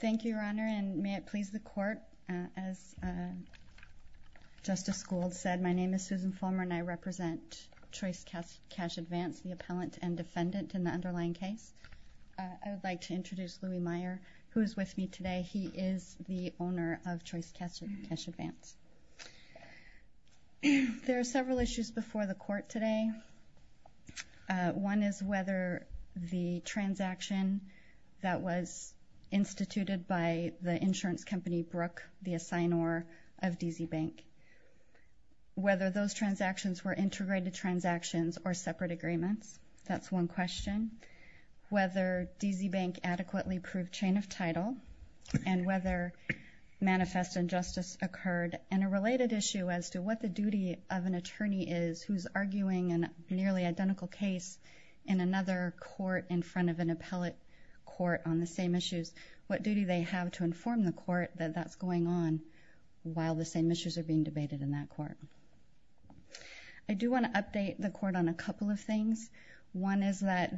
Thank you, Your Honor, and may it please the Court, as Justice Gould said, my name is Susan Fulmer and I represent Choice Cash Advance, the appellant and defendant in the underlying case. I would like to introduce Louie Meyer, who is with me today. He is the owner of Choice Cash Advance. There are several issues before the Court today. One is whether the transaction was instituted by the insurance company, Brook, the assignor of DZ Bank. Whether those transactions were integrated transactions or separate agreements, that is one question. Whether DZ Bank adequately proved chain of title and whether manifest injustice occurred and a related issue as to what the duty of an attorney is who is arguing a nearly identical case in another court in front of an appellate court on the same issues. What duty do they have to inform the court that that's going on while the same issues are being debated in that court? I do want to update the Court on a couple of things. One is that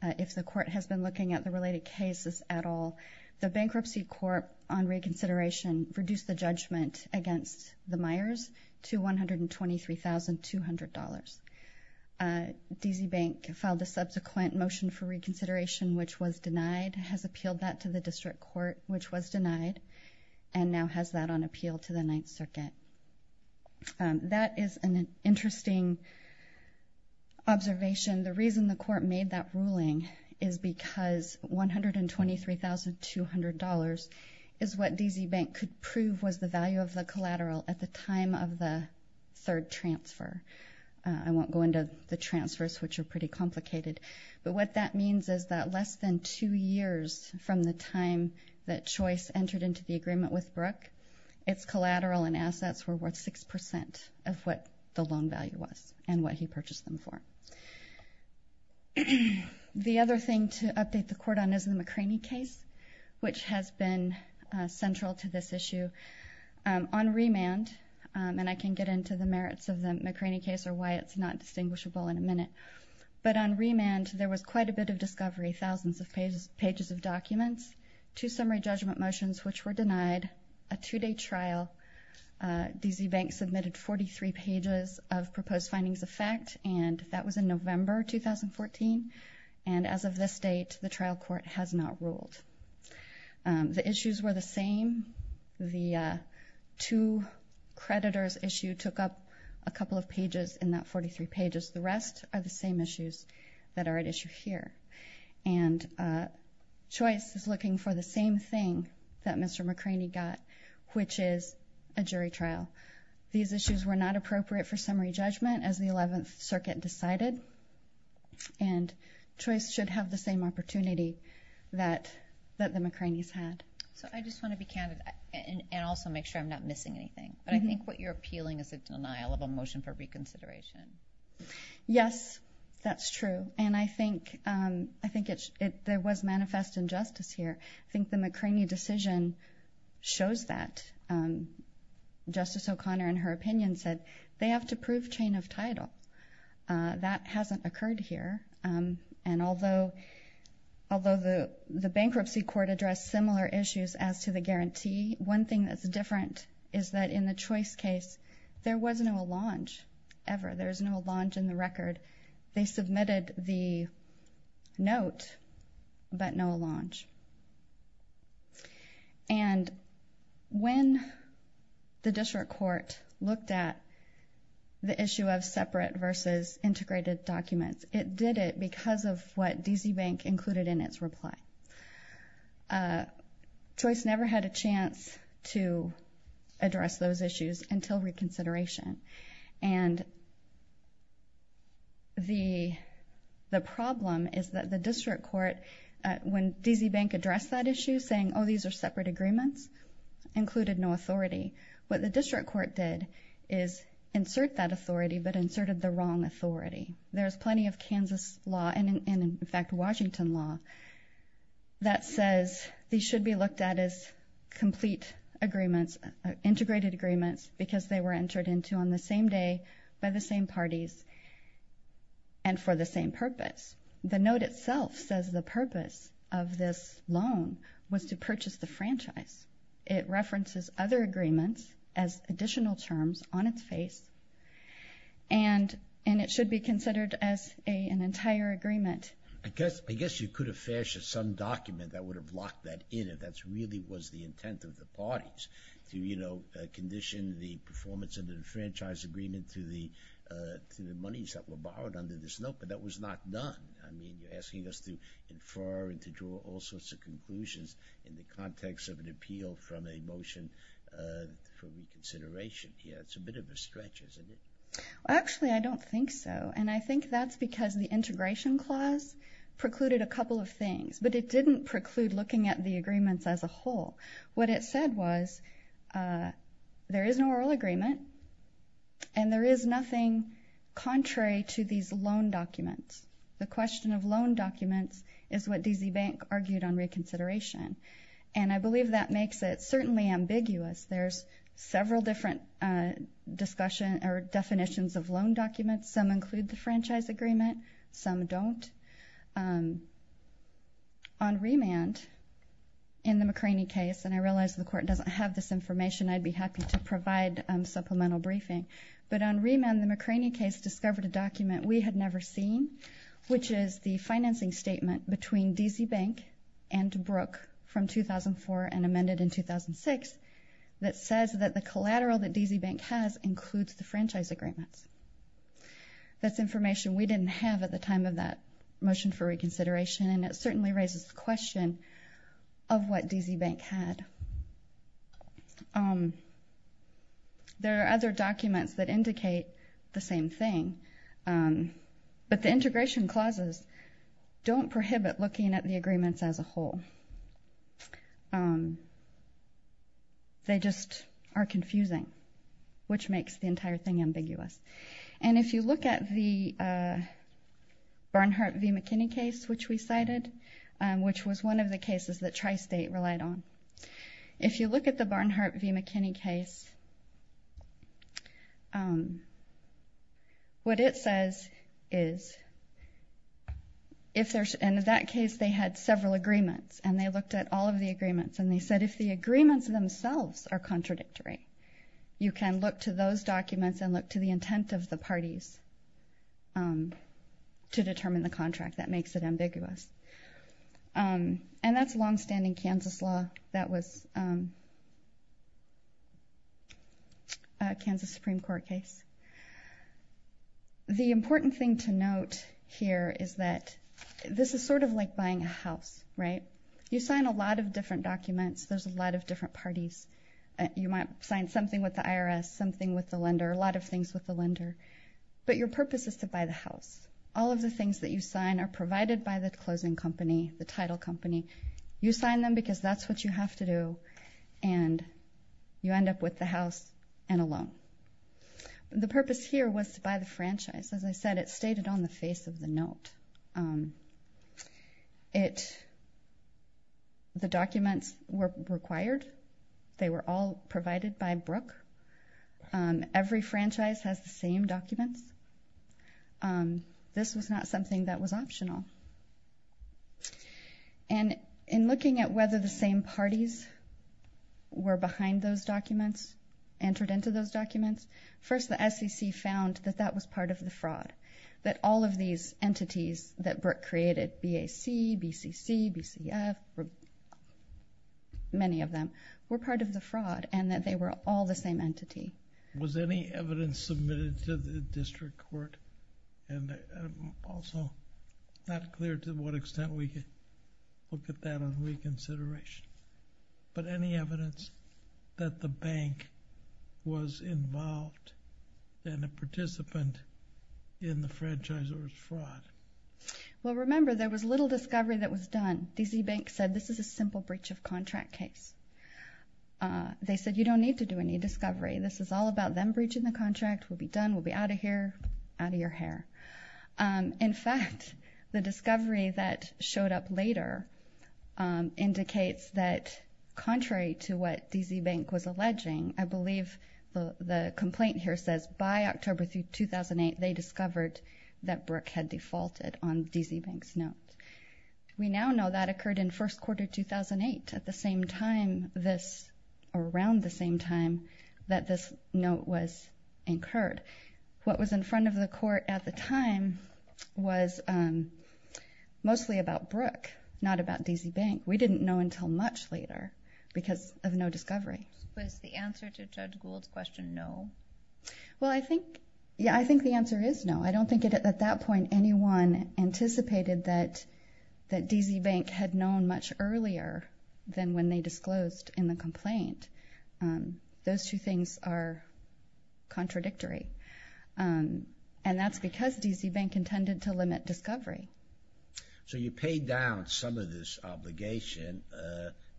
if the Court has been looking at the related cases at all, the Bankruptcy Court on reconsideration reduced the judgment against the Meyers to $123,200. DZ Bank filed a subsequent motion for reconsideration, which was denied, has appealed that to the District Court, which was denied, and now has that on appeal to the Ninth Circuit. That is an interesting observation. The reason the Court made that ruling is because $123,200 is what DZ Bank could prove was the value of the collateral at the time of the third transfer. I won't go into the transfers, which are pretty complicated, but what that means is that less than two years from the time that Choice entered into the agreement with Brook, its collateral and assets were worth 6% of what the loan value was and what he purchased them for. The other thing to update the Court on is the McCraney case, which has been central to this issue. On remand, and I can get into the merits of the McCraney case or why it's not distinguishable in a minute, but on remand there was quite a bit of discovery, thousands of pages of documents, two summary judgment motions which were denied, a two-day trial. DZ Bank submitted 43 pages of proposed findings of fact and that was in November 2014. As of this date, the trial court has not ruled. The issues were the same. The two creditors issue took up a couple of pages in that 43 pages. The rest are the same issues that are at issue here. Choice is looking for the same thing that Mr. McCraney got, which is a jury trial. These issues were not appropriate for summary judgment as the 11th Circuit decided and Choice should have the same opportunity that the McCraneys had. So I just want to be candid and also make sure I'm not missing anything, but I think what you're appealing is a denial of a motion for reconsideration. Yes, that's true and I think there was manifest injustice here. I think the McCraney decision shows that. Justice O'Connor, in her opinion, said they have to prove chain of title. That hasn't occurred here and although the bankruptcy court addressed similar issues as to the guarantee, one thing that's different is that in the Choice case, there was no allonge ever. There's no allonge in the record. They submitted the note, but no allonge. And when the district court looked at the issue of separate versus integrated documents, it did it because of what D.C. Bank included in its reply. Choice never had a chance to And the problem is that the district court, when D.C. Bank addressed that issue saying, oh, these are separate agreements, included no authority. What the district court did is insert that authority, but inserted the wrong authority. There's plenty of Kansas law and, in fact, Washington law that says these should be looked at as complete agreements, integrated agreements, because they were entered into on the same day by the same parties and for the same purpose. The note itself says the purpose of this loan was to purchase the franchise. It references other agreements as additional terms on its face and it should be considered as an entire agreement. I guess you could have fashioned some document that would have locked that in if that really was the intent of the parties, to condition the performance of the franchise agreement to the monies that were borrowed under this note, but that was not done. I mean, you're asking us to infer and to draw all sorts of conclusions in the context of an appeal from a motion for reconsideration. Yeah, it's a bit of a stretch, isn't it? Actually, I don't think so, and I think that's because the integration clause precluded a couple of things, but it didn't preclude looking at the agreements as a whole. What it said was there is no oral agreement and there is nothing contrary to these loan documents. The question of loan documents is what D.C. Bank argued on reconsideration, and I believe that makes it certainly ambiguous. There's several different definitions of loan documents. Some include the franchise agreement, some don't. On remand, in the McCraney case, and I realize the Court doesn't have this information, I'd be happy to provide supplemental briefing, but on remand, the McCraney case discovered a document we had never seen, which is the financing statement between D.C. Bank and Brooke from 2004 and amended in 2006 that says that the collateral that D.C. Bank had in those agreements. That's information we didn't have at the time of that motion for reconsideration, and it certainly raises the question of what D.C. Bank had. There are other documents that indicate the same thing, but the integration clauses don't prohibit looking at the agreements as a whole. They just are confusing, which makes the entire thing ambiguous. If you look at the Barnhart v. McKinney case, which we cited, which was one of the cases that Tri-State relied on, if you look at the Barnhart v. McKinney case, what it says is, in that case, they had several agreements, and they looked at all of the agreements, and they said if the agreements themselves are contradictory, you can look to those documents and look to the intent of the parties to determine the contract. That makes it ambiguous, and that's longstanding Kansas law. That was a Kansas Supreme Court case. The important thing to note here is that this is sort of like buying a house, right? You sign a lot of different documents. There's a lot of different parties. You might sign something with the IRS, something with the lender, a lot of things with the lender, but your purpose is to buy the house. All of the things that you sign are provided by the closing company, the title company. You sign them because that's what you have to do, and you end up with the house and a loan. The purpose here was to buy the franchise. As I said, it's stated on the face of the note. The documents were required. They were all provided by Brooke. Every franchise has the documents. This was not something that was optional. In looking at whether the same parties were behind those documents, entered into those documents, first the SEC found that that was part of the fraud, that all of these entities that Brooke created, BAC, BCC, BCF, many of them, were part of the fraud, and that they were all the same entity. Was any evidence submitted to the district court, and I'm also not clear to what extent we could look at that on reconsideration, but any evidence that the bank was involved and a participant in the franchisor's fraud? Well, remember, there was little discovery that was done. DC Bank said, this is a simple breach of contract case. They said you don't need to do any discovery. This is all about them breaching the contract. We'll be done. We'll be out of here, out of your hair. In fact, the discovery that showed up later indicates that, contrary to what DC Bank was alleging, I believe the complaint here says by October 2008, they discovered that Brooke had defaulted on DC Bank's note. We now know that occurred in this note was incurred. What was in front of the court at the time was mostly about Brooke, not about DC Bank. We didn't know until much later because of no discovery. Was the answer to Judge Gould's question no? Well, I think, yeah, I think the answer is no. I don't think at that point anyone anticipated that DC Bank had known much earlier than when they disclosed in the complaint. Those two things are contradictory, and that's because DC Bank intended to limit discovery. So you paid down some of this obligation.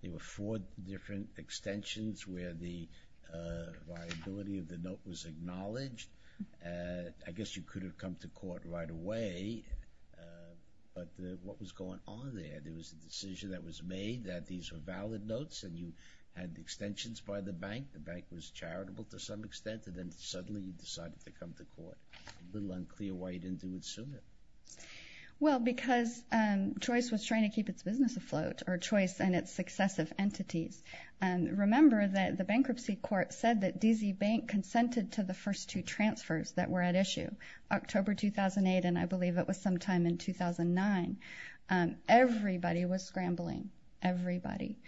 There were four different extensions where the viability of the note was acknowledged. I guess you could have come to court right away, but what was going on there? There was a decision that was made that these were valid notes and you the bank. The bank was charitable to some extent, and then suddenly you decided to come to court. A little unclear why you didn't do it sooner. Well, because Choice was trying to keep its business afloat, or Choice and its successive entities. Remember that the bankruptcy court said that DC Bank consented to the first two transfers that were at issue. October 2008, and I believe it was sometime in 2009, everybody was scrambling. Everybody.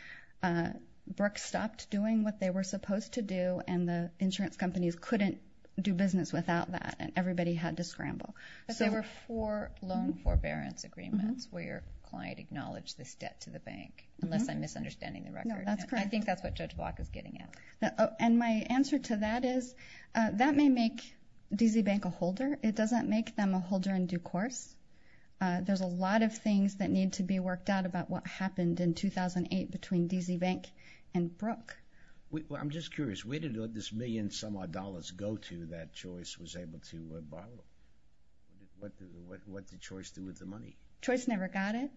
Brooks stopped doing what they were supposed to do, and the insurance companies couldn't do business without that, and everybody had to scramble. But there were four loan forbearance agreements where your client acknowledged this debt to the bank, unless I'm misunderstanding the record. No, that's correct. I think that's what Judge Block is getting at. And my answer to that is that may make DC Bank a holder. It doesn't make them a holder in due course. There's a lot of things that need to be worked out about what happened in 2008 between DC Bank and Brooks. I'm just curious. Where did this million-some-odd dollars go to that Choice was able to borrow? What did Choice do with the money? Choice never got it.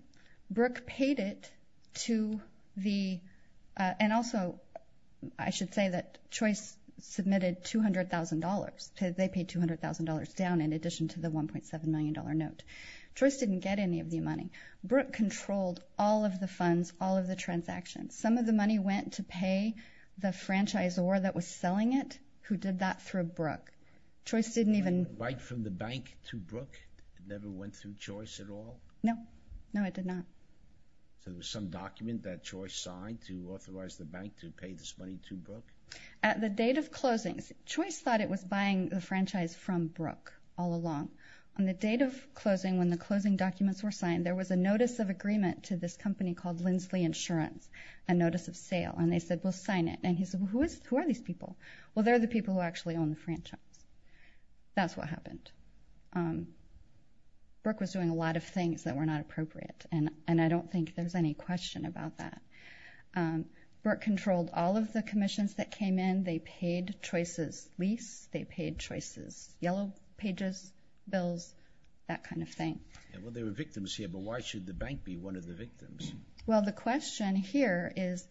Brooks paid it to the, and also I should say that Choice submitted $200,000. They paid $200,000 down in addition to the $1.7 million note. Choice didn't get any of the money. Brooks controlled all of the funds, all of the transactions. Some of the money went to pay the franchisor that was selling it, who did that through Brooks. Choice didn't even... Right from the bank to Brooks? It never went through Choice at all? No. No, it did not. So there was some document that Choice signed to authorize the bank to pay this money to Brooks? At the date of closings, Choice thought it was buying the franchise from Brooks all along. On the date of closing, when the closing documents were signed, there was a notice of agreement to this company called Lindsley Insurance, a notice of sale, and they said, we'll sign it. And he said, who are these people? Well, they're the people who actually own the franchise. That's what happened. Brooks was doing a lot of things that were not appropriate, and I don't think there's any question about that. Brooks controlled all of the commissions that came in. They paid Choice's lease. They paid Choice's yellow pages, bills, that kind of thing. Well, there were victims here, but why should the bank be one of the victims? Well, the question here is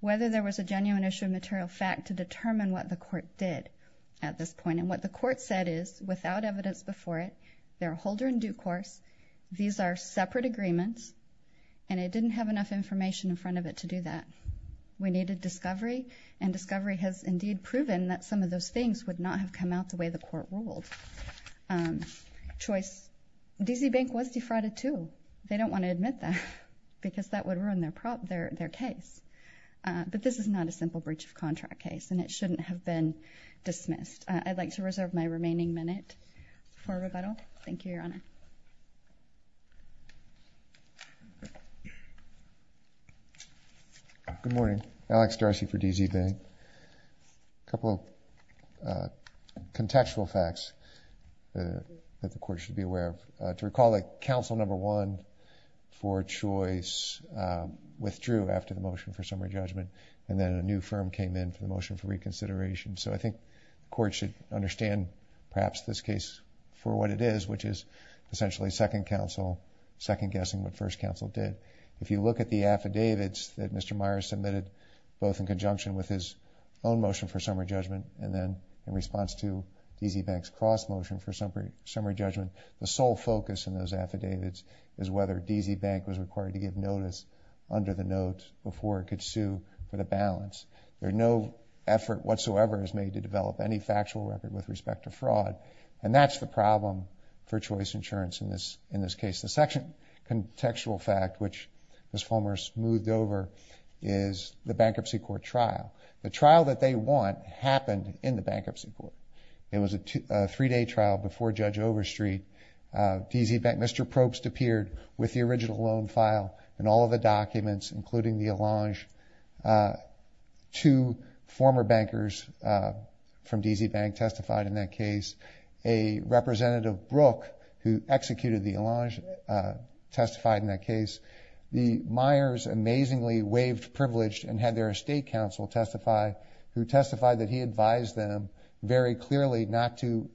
whether there was a genuine issue of material fact to determine what the court did at this point. And what the court said is, without evidence before it, they're a holder in due course. These are separate agreements, and it didn't have enough information in front of it to do that. We needed discovery, and discovery has indeed proven that some of those things would not have come out the way the court ruled. Choice, D.C. Bank was defrauded too. They don't want to admit that because that would ruin their case. But this is not a simple breach of contract case, and it shouldn't have been dismissed. I'd like to reserve my remaining minute for rebuttal. Thank you, Your Honor. Good morning. Alex Darcy for D.C. Bank. A couple contextual facts that the court should be aware of. To recall that counsel number one for Choice withdrew after the motion for summary judgment, and then a new firm came in for the motion for this case for what it is, which is essentially second guessing what first counsel did. If you look at the affidavits that Mr. Myers submitted, both in conjunction with his own motion for summary judgment, and then in response to D.C. Bank's cross motion for summary judgment, the sole focus in those affidavits is whether D.C. Bank was required to give notice under the note before it could sue for the balance. There's no effort whatsoever made to develop any factual effort with respect to fraud, and that's the problem for Choice Insurance in this case. The second contextual fact, which Ms. Fulmer smoothed over, is the bankruptcy court trial. The trial that they want happened in the bankruptcy court. It was a three-day trial before Judge Overstreet. Mr. Probst appeared with the original loan file and all of the documents, including the case. A representative, Brook, who executed the allange testified in that case. The Myers amazingly waived privilege and had their estate counsel testify, who testified that he advised them very clearly not to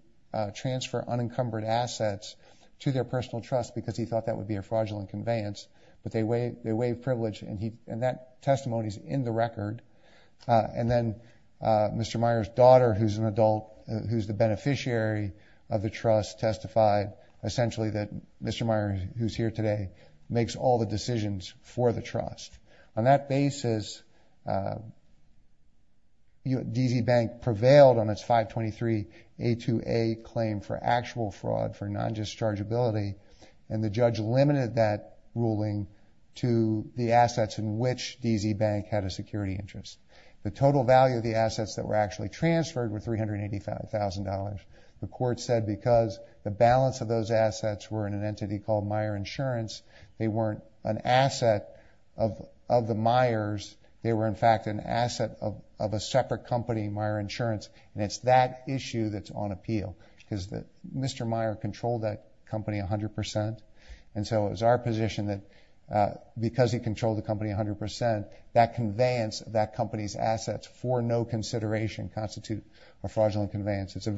transfer unencumbered assets to their personal trust because he thought that would be a fraudulent conveyance, but they waived privilege, and that testimony is in the case. The beneficiary of the trust testified essentially that Mr. Myers, who's here today, makes all the decisions for the trust. On that basis, D.C. Bank prevailed on its 523-A2A claim for actual fraud for non-dischargeability, and the judge limited that ruling to the assets in which D.C. Bank had a security interest. The total value of the assets that were actually transferred were $385,000. The court said because the balance of those assets were in an entity called Myers Insurance, they weren't an asset of the Myers. They were, in fact, an asset of a separate company, Myers Insurance, and it's that issue that's on appeal because Mr. Myers controlled that company 100 percent, and so it was our position that because he controlled the company 100 percent, that conveyance of that company's assets for no consideration constitute a fraudulent conveyance. It's a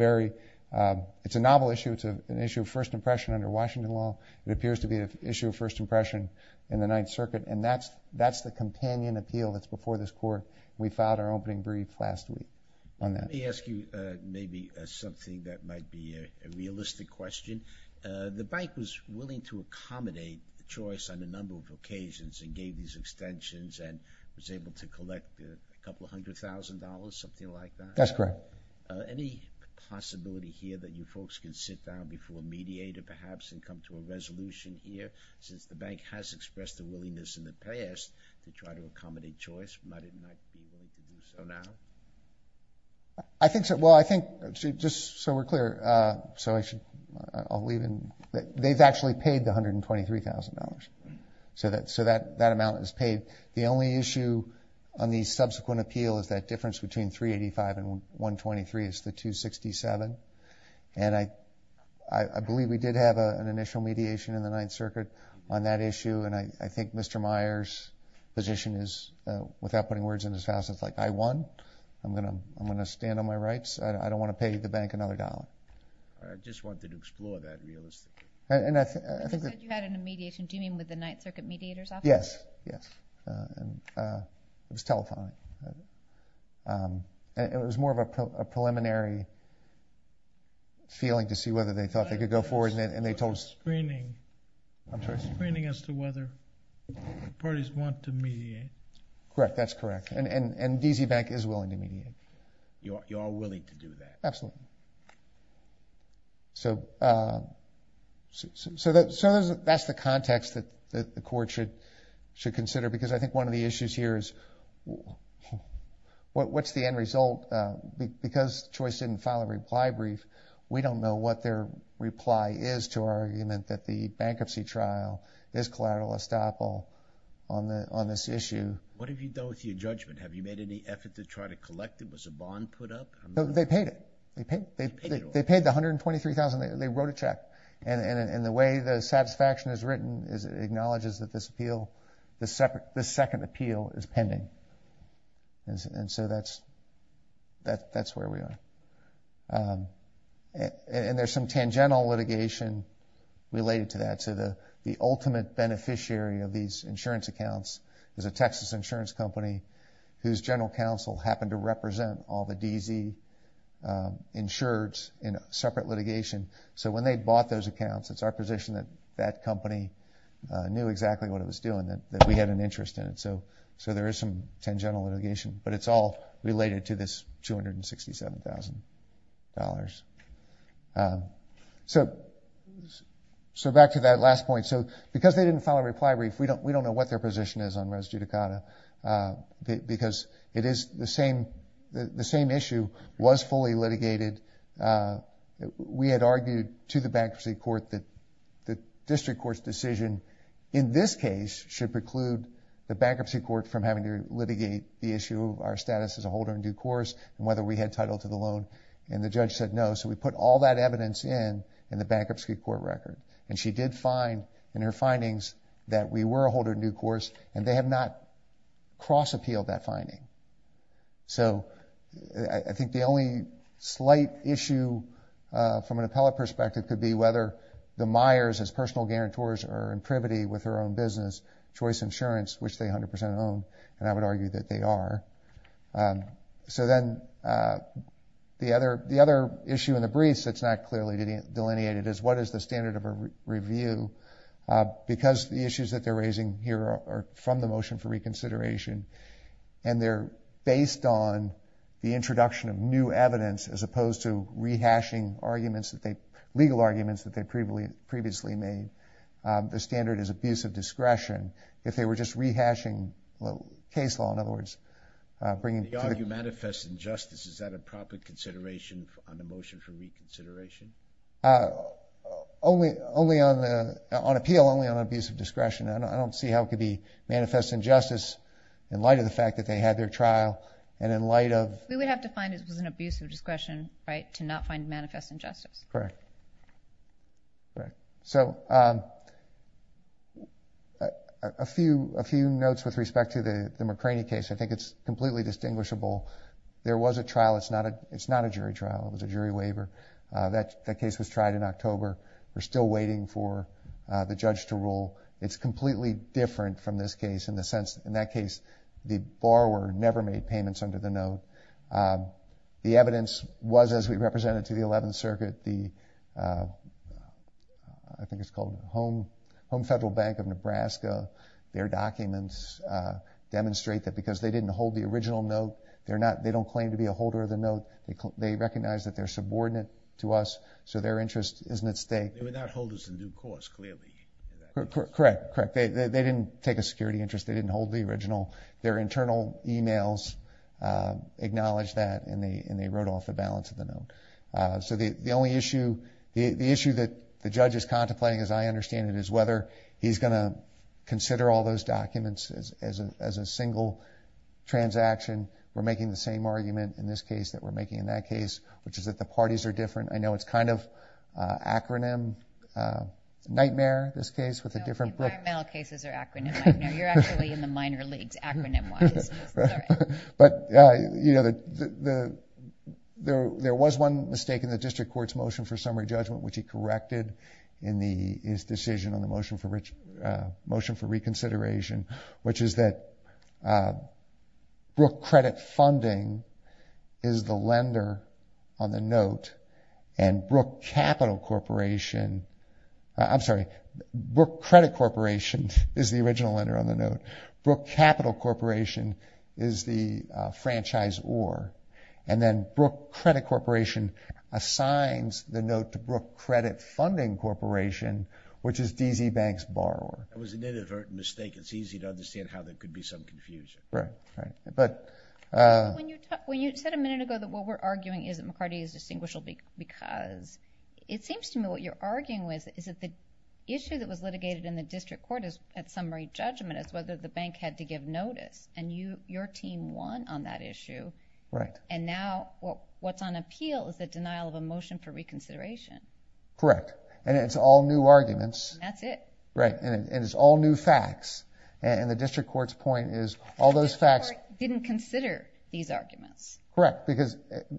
novel issue. It's an issue of first impression under Washington law. It appears to be an issue of first impression in the Ninth Circuit, and that's the companion appeal that's before this court. We filed our opening brief last week on that. Let me ask you maybe something that might be a realistic question. The bank was willing to accommodate the choice on a number of issues. It was able to collect a couple hundred thousand dollars, something like that. That's correct. Any possibility here that you folks can sit down before a mediator perhaps and come to a resolution here since the bank has expressed a willingness in the past to try to accommodate choice? Might it be right to do so now? I think so. Well, I think, just so we're clear, so I'll they've actually paid the $123,000, so that amount is paid. The only issue on the subsequent appeal is that difference between 385 and 123 is the 267, and I believe we did have an initial mediation in the Ninth Circuit on that issue, and I think Mr. Meyer's position is, without putting words in his mouth, it's like, I won. I'm going to stand on my rights. I don't want to pay the bank another dollar. I just wanted to explore that realistically. And you said you had a mediation. Do you mean with the Ninth Circuit mediator's office? Yes, yes. It was telethon. It was more of a preliminary feeling to see whether they thought they could go forward, and they told us... Screening. I'm sorry? Screening as to whether the parties want to mediate. Correct. That's correct, and DZ Bank is willing to mediate. You're all willing to do that. Absolutely. So that's the context that the Court should consider, because I think one of the issues here is, what's the end result? Because Choice didn't file a reply brief, we don't know what their reply is to our argument that the bankruptcy trial is collateral estoppel on this issue. What have you done with your judgment? Have you made any effort to try to collect it? Was a bond put up? They paid it. They paid the $123,000. They wrote a check, and the way the satisfaction is written is it acknowledges that this appeal, this second appeal, is pending. And so that's where we are. And there's some tangential litigation related to that. So the ultimate beneficiary of these insurance accounts is a Texas insurance company whose general counsel happened to represent all the DZ insureds in a separate litigation. So when they bought those accounts, it's our position that that company knew exactly what it was doing, that we had an interest in it. So there is some tangential litigation, but it's all related to this $267,000. So back to that last point. So because they didn't file a reply brief, we don't know what their position is on res judicata, because the same issue was fully litigated. We had argued to the bankruptcy court that the district court's decision in this case should preclude the bankruptcy court from having to litigate the issue of our status as a holder in due course and whether we were entitled to the loan. And the judge said no. So we put all that evidence in the bankruptcy court record. And she did find in her findings that we were a holder in due course, and they have not cross-appealed that finding. So I think the only slight issue from an appellate perspective could be whether the Myers, as personal guarantors, are in privity with their own business, Choice Insurance, which they 100% own, and I would argue that they are. So then the other issue in the briefs that's not clearly delineated is what is the standard of a review, because the issues that they're raising here are from the motion for reconsideration, and they're based on the introduction of new evidence as opposed to rehashing arguments, legal arguments that they previously made. The standard is abuse of discretion. If they were just rehashing case law, in other words, bringing to the- They argue manifest injustice. Is that a proper consideration on the motion for reconsideration? On appeal, only on abuse of discretion. I don't see how it could be manifest injustice in light of the fact that they had their trial and in light of- We would have to find it was an abuse of discretion, right, to not find manifest injustice. Correct. So a few notes with respect to the McCraney case. I think it's completely distinguishable. There was a trial. It's not a jury trial. It was a jury waiver. That case was tried in October. We're still waiting for the judge to rule. It's completely different from this case in the sense, in that case, the borrower never made payments under the circuit. I think it's called Home Federal Bank of Nebraska. Their documents demonstrate that because they didn't hold the original note, they don't claim to be a holder of the note. They recognize that they're subordinate to us, so their interest isn't at stake. They were not holders of the new course, clearly. Correct. They didn't take a security interest. They didn't hold the original. Their internal emails acknowledged that and they wrote off the balance of the note. So the only issue, the issue that the judge is contemplating, as I understand it, is whether he's going to consider all those documents as a single transaction. We're making the same argument in this case that we're making in that case, which is that the parties are different. I know it's kind of an acronym nightmare, this case, with a different- No, environmental cases are acronym nightmare. You're actually in the minor leagues, acronym-wise. But there was one mistake in the district court's motion for summary judgment, which he corrected in his decision on the motion for reconsideration, which is that Brooke Credit Corporation is the original lender on the note. Brooke Capital Corporation is the franchise or, and then Brooke Credit Corporation assigns the note to Brooke Credit Funding Corporation, which is DZ Bank's borrower. That was an inadvertent mistake. It's easy to understand how there could be some confusion. Right, right. But- When you said a minute ago that what we're arguing is that McCarty is distinguishable because it seems to me what you're arguing with is that the issue that was litigated in the district court at summary judgment is whether the bank had to give notice, and your team won on that issue. Right. And now what's on appeal is the denial of a motion for reconsideration. Correct. And it's all new arguments. That's it. Right. And it's all new facts. And the district court's point is all those facts- The district court didn't consider these arguments. Correct.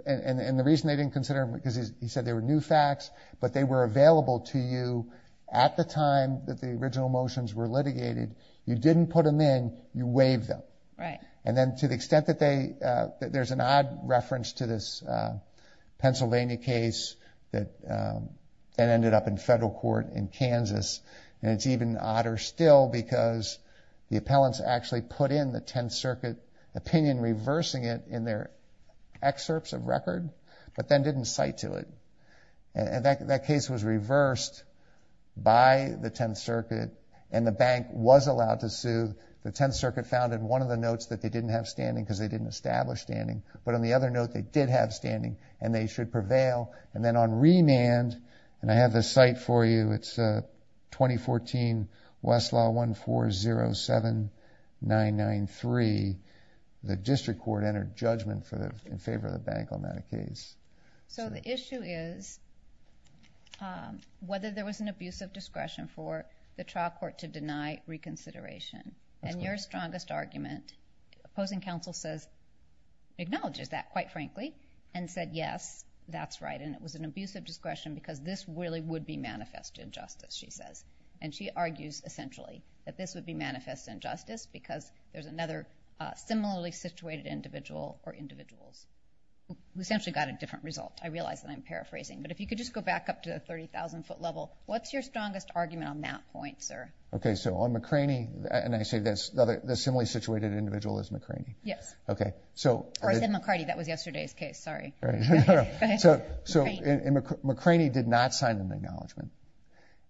And the reason they didn't consider them because he said they were new facts, but they were available to you at the time that the original motions were litigated. You didn't put them in, you waived them. Right. And then to the extent that they, there's an odd reference to this Pennsylvania case that ended up in federal court in Kansas. And it's even odder still because the appellants actually put in the 10th circuit opinion, reversing it in their excerpts of record, but then didn't cite to it. And that case was reversed by the 10th circuit and the bank was allowed to sue. The 10th circuit found in one of the notes that they didn't have standing because they didn't establish standing, but on the other note, they did have standing and they should 993, the district court entered judgment in favor of the bank on that case. So the issue is whether there was an abuse of discretion for the trial court to deny reconsideration. And your strongest argument, opposing counsel says, acknowledges that quite frankly, and said, yes, that's right. And it was an abuse of discretion because this really would be manifest injustice, she says. And she argues essentially that this would be manifest injustice because there's another similarly situated individual or individuals who essentially got a different result. I realize that I'm paraphrasing, but if you could just go back up to the 30,000 foot level, what's your strongest argument on that point, sir? Okay. So on McCraney, and I say this, the similarly situated individual is McCraney. Yes. Okay. Or I said McCarty, that was yesterday's case, sorry. So McCraney did not sign an acknowledgement,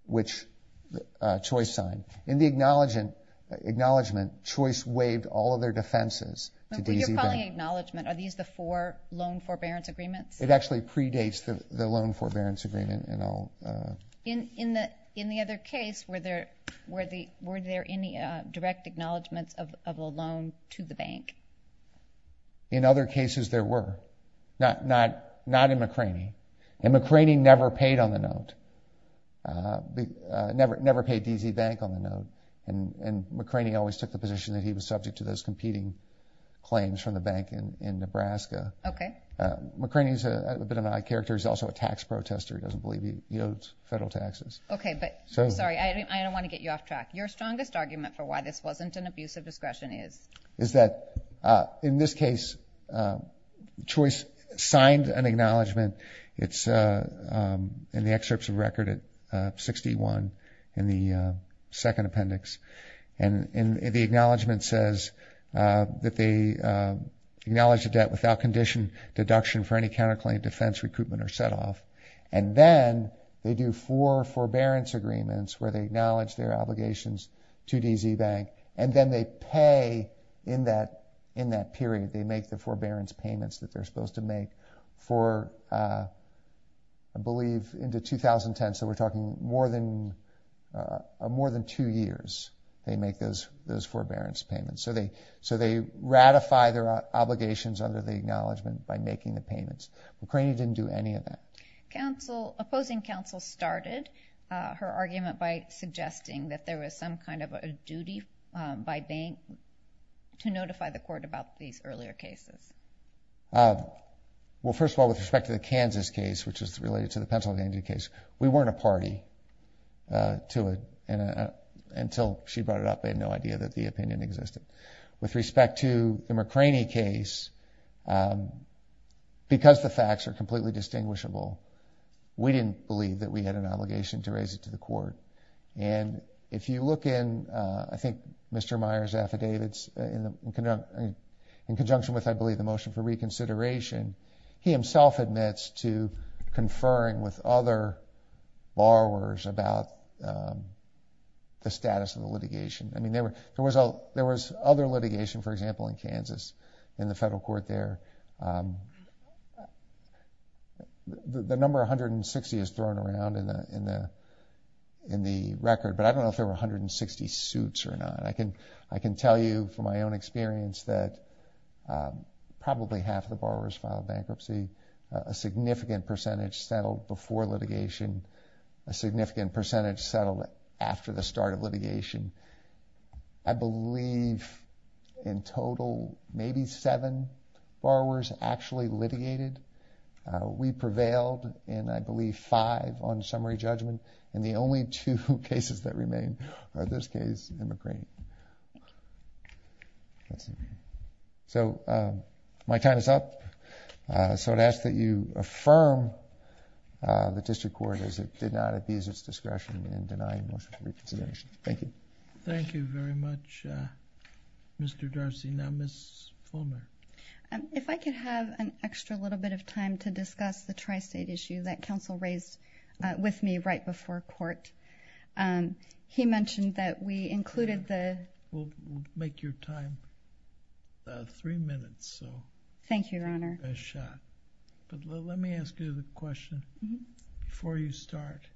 which Choice signed. In the acknowledgement, Choice waived all of their defenses. When you're calling acknowledgement, are these the four loan forbearance agreements? It actually predates the loan forbearance agreement and all. In the other case, were there any direct acknowledgements of a loan to the bank? In other cases, there were. Not in McCraney. And McCraney never paid on the note, never paid DZ Bank on the note. And McCraney always took the position that he was subject to those competing claims from the bank in Nebraska. Okay. McCraney's a bit of an odd character. He's also a tax protester. He doesn't believe he owes federal taxes. Okay, but sorry, I don't want to get you off track. Your strongest signed an acknowledgement. It's in the excerpts of record at 61 in the second appendix. And the acknowledgement says that they acknowledge the debt without condition, deduction for any counterclaim defense recruitment or set off. And then they do four forbearance agreements where they acknowledge their obligations to DZ Bank. And then they pay in that period. They make the forbearance payments that they're supposed to make for, I believe, into 2010. So we're talking more than two years they make those forbearance payments. So they ratify their obligations under the acknowledgement by making the payments. McCraney didn't do any of that. Opposing counsel started her argument by suggesting that there was some kind of a duty by bank to notify the court about these earlier cases. Well, first of all, with respect to the Kansas case, which is related to the Pennsylvania case, we weren't a party to it until she brought it up. They had no idea that the opinion existed. With respect to the McCraney case, because the facts are completely distinguishable, we didn't believe that we had an obligation to raise it to the court. And if you look in, I think, Mr. Meyer's affidavits in conjunction with, I believe, the motion for reconsideration, he himself admits to conferring with other borrowers about the status of the litigation. I mean, there was other litigation, for example, in Kansas in the federal court there. The number 160 is thrown around in the record, but I don't know if there were 160 suits or not. I can tell you from my own experience that probably half of the borrowers filed bankruptcy. A significant percentage settled before litigation. A significant percentage settled after the start of litigation. I believe, in total, maybe seven borrowers actually litigated. We prevailed in, I believe, five on summary judgment. And the only two cases that remain are this case and McCraney. So my time is up. So I'd ask that you affirm the district court as it did not abuse its discretion in denying motion for reconsideration. Thank you. Thank you very much, Mr. Darcy. Now, Ms. Fulmer. If I could have an extra little bit of time to discuss the tri-state issue that counsel raised with me right before court. He mentioned that we included the... We'll make your time three minutes, so... Thank you, Your Honor.... a shot. But let me ask you the question before you start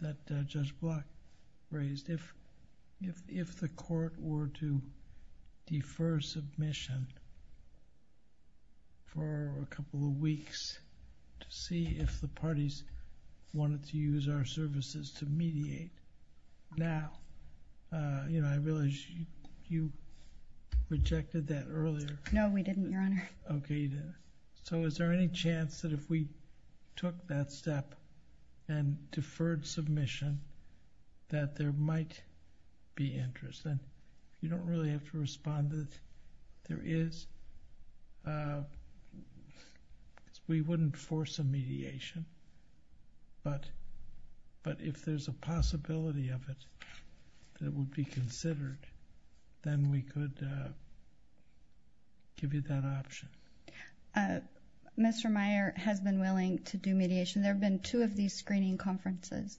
that Judge Block raised. If the court were to defer submission for a couple of weeks to see if the parties wanted to use our services to mediate now, you know, I realize you rejected that earlier. No, we didn't, Your Honor. Okay. So is there any chance that if we took that step and deferred submission that there might be interest? And you don't really have to respond that there is. We wouldn't force a mediation, but if there's a possibility of it that would be considered, then we could give you that option. Mr. Meyer has been willing to do mediation. There have been two of these screening conferences.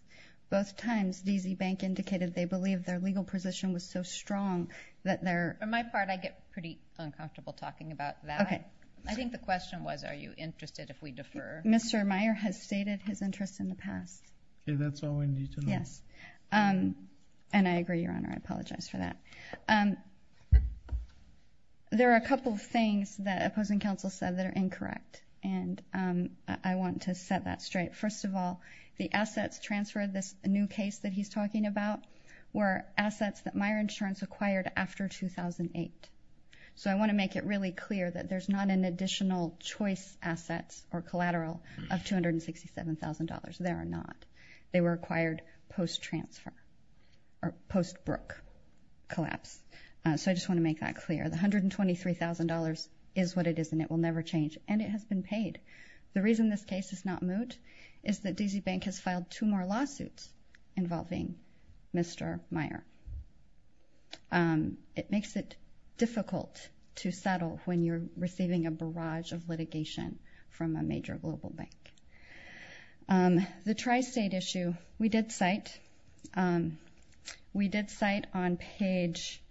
Both times, DZ Bank indicated they believed their legal position was so strong that their... For my part, I get pretty uncomfortable talking about that. Okay. I think the question was, are you interested if we defer? Mr. Meyer has stated his interest in the past. Okay. That's all we need to know. Yes. And I agree, Your Honor. I apologize for that. There are a couple of things that opposing counsel said that are incorrect, and I want to set that straight. First of all, the assets transferred, this new case that he's talking about, were assets that Meyer Insurance acquired after 2008. So I want to make it really clear that there's not an additional choice assets or collateral of $267,000. There are not. They were acquired post-transfer or post-Brooke collapse. So I just want to make that clear. The $123,000 is what it is, and it will never change. And it has been paid. The reason this case is not moved is that DZ Bank has filed two more lawsuits involving Mr. Meyer. It makes it difficult to settle when you're receiving a barrage of litigation from a major global bank. The tri-state issue, we did cite on page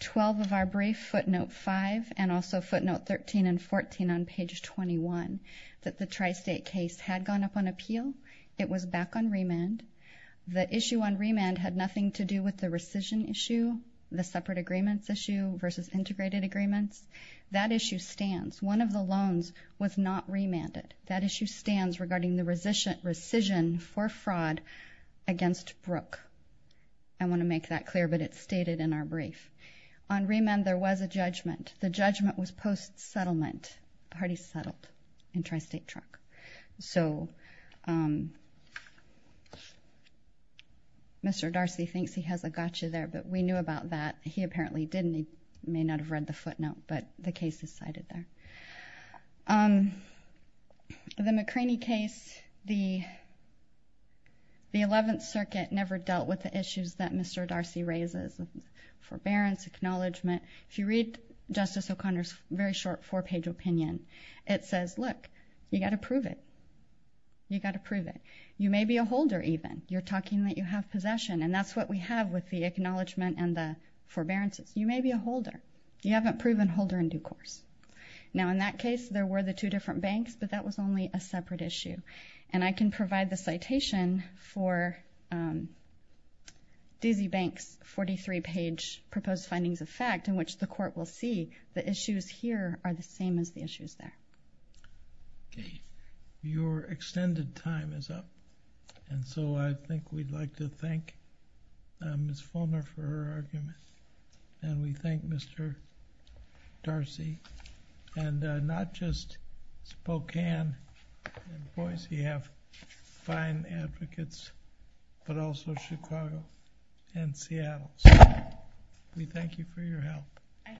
12 of our brief, footnote 5, and also footnote 13 and 14 on page 21, that the tri-state case had gone up on appeal. It was back on remand. The issue on remand had nothing to do with the rescission issue, the separate agreements issue versus integrated agreements. That issue stands. One of the loans was not remanded. That issue stands regarding the rescission for fraud against Brooke. I want to make that clear, but it's stated in our brief. On remand, there was a judgment. The judgment was post-settlement. The party settled in tri-state truck. So Mr. Darcy thinks he has a gotcha there, but we knew about that. He apparently didn't. He may not have read the footnote, but the case is cited there. The McCraney case, the 11th Circuit never dealt with the issues that Mr. Darcy raises, forbearance, acknowledgement. If you read Justice O'Connor's very short four-page opinion, it says, look, you got to prove it. You got to prove it. You may be a holder even. You're talking that you have possession, and that's what we have with the acknowledgement and the forbearances. You may be a holder. You haven't proven holder in due course. Now, in that case, there were the two different banks, but that was only a separate issue, and I can provide the citation for Dizzie Bank's 43-page proposed findings of fact in which the Court will see the issues here are the same as the issues there. Okay. Your extended time is up, and so I think we'd like to thank Ms. Fulmer for her argument, and we thank Mr. Darcy, and not just Spokane and Boise have fine advocates, but also Chicago and Seattle, so we thank you for your help.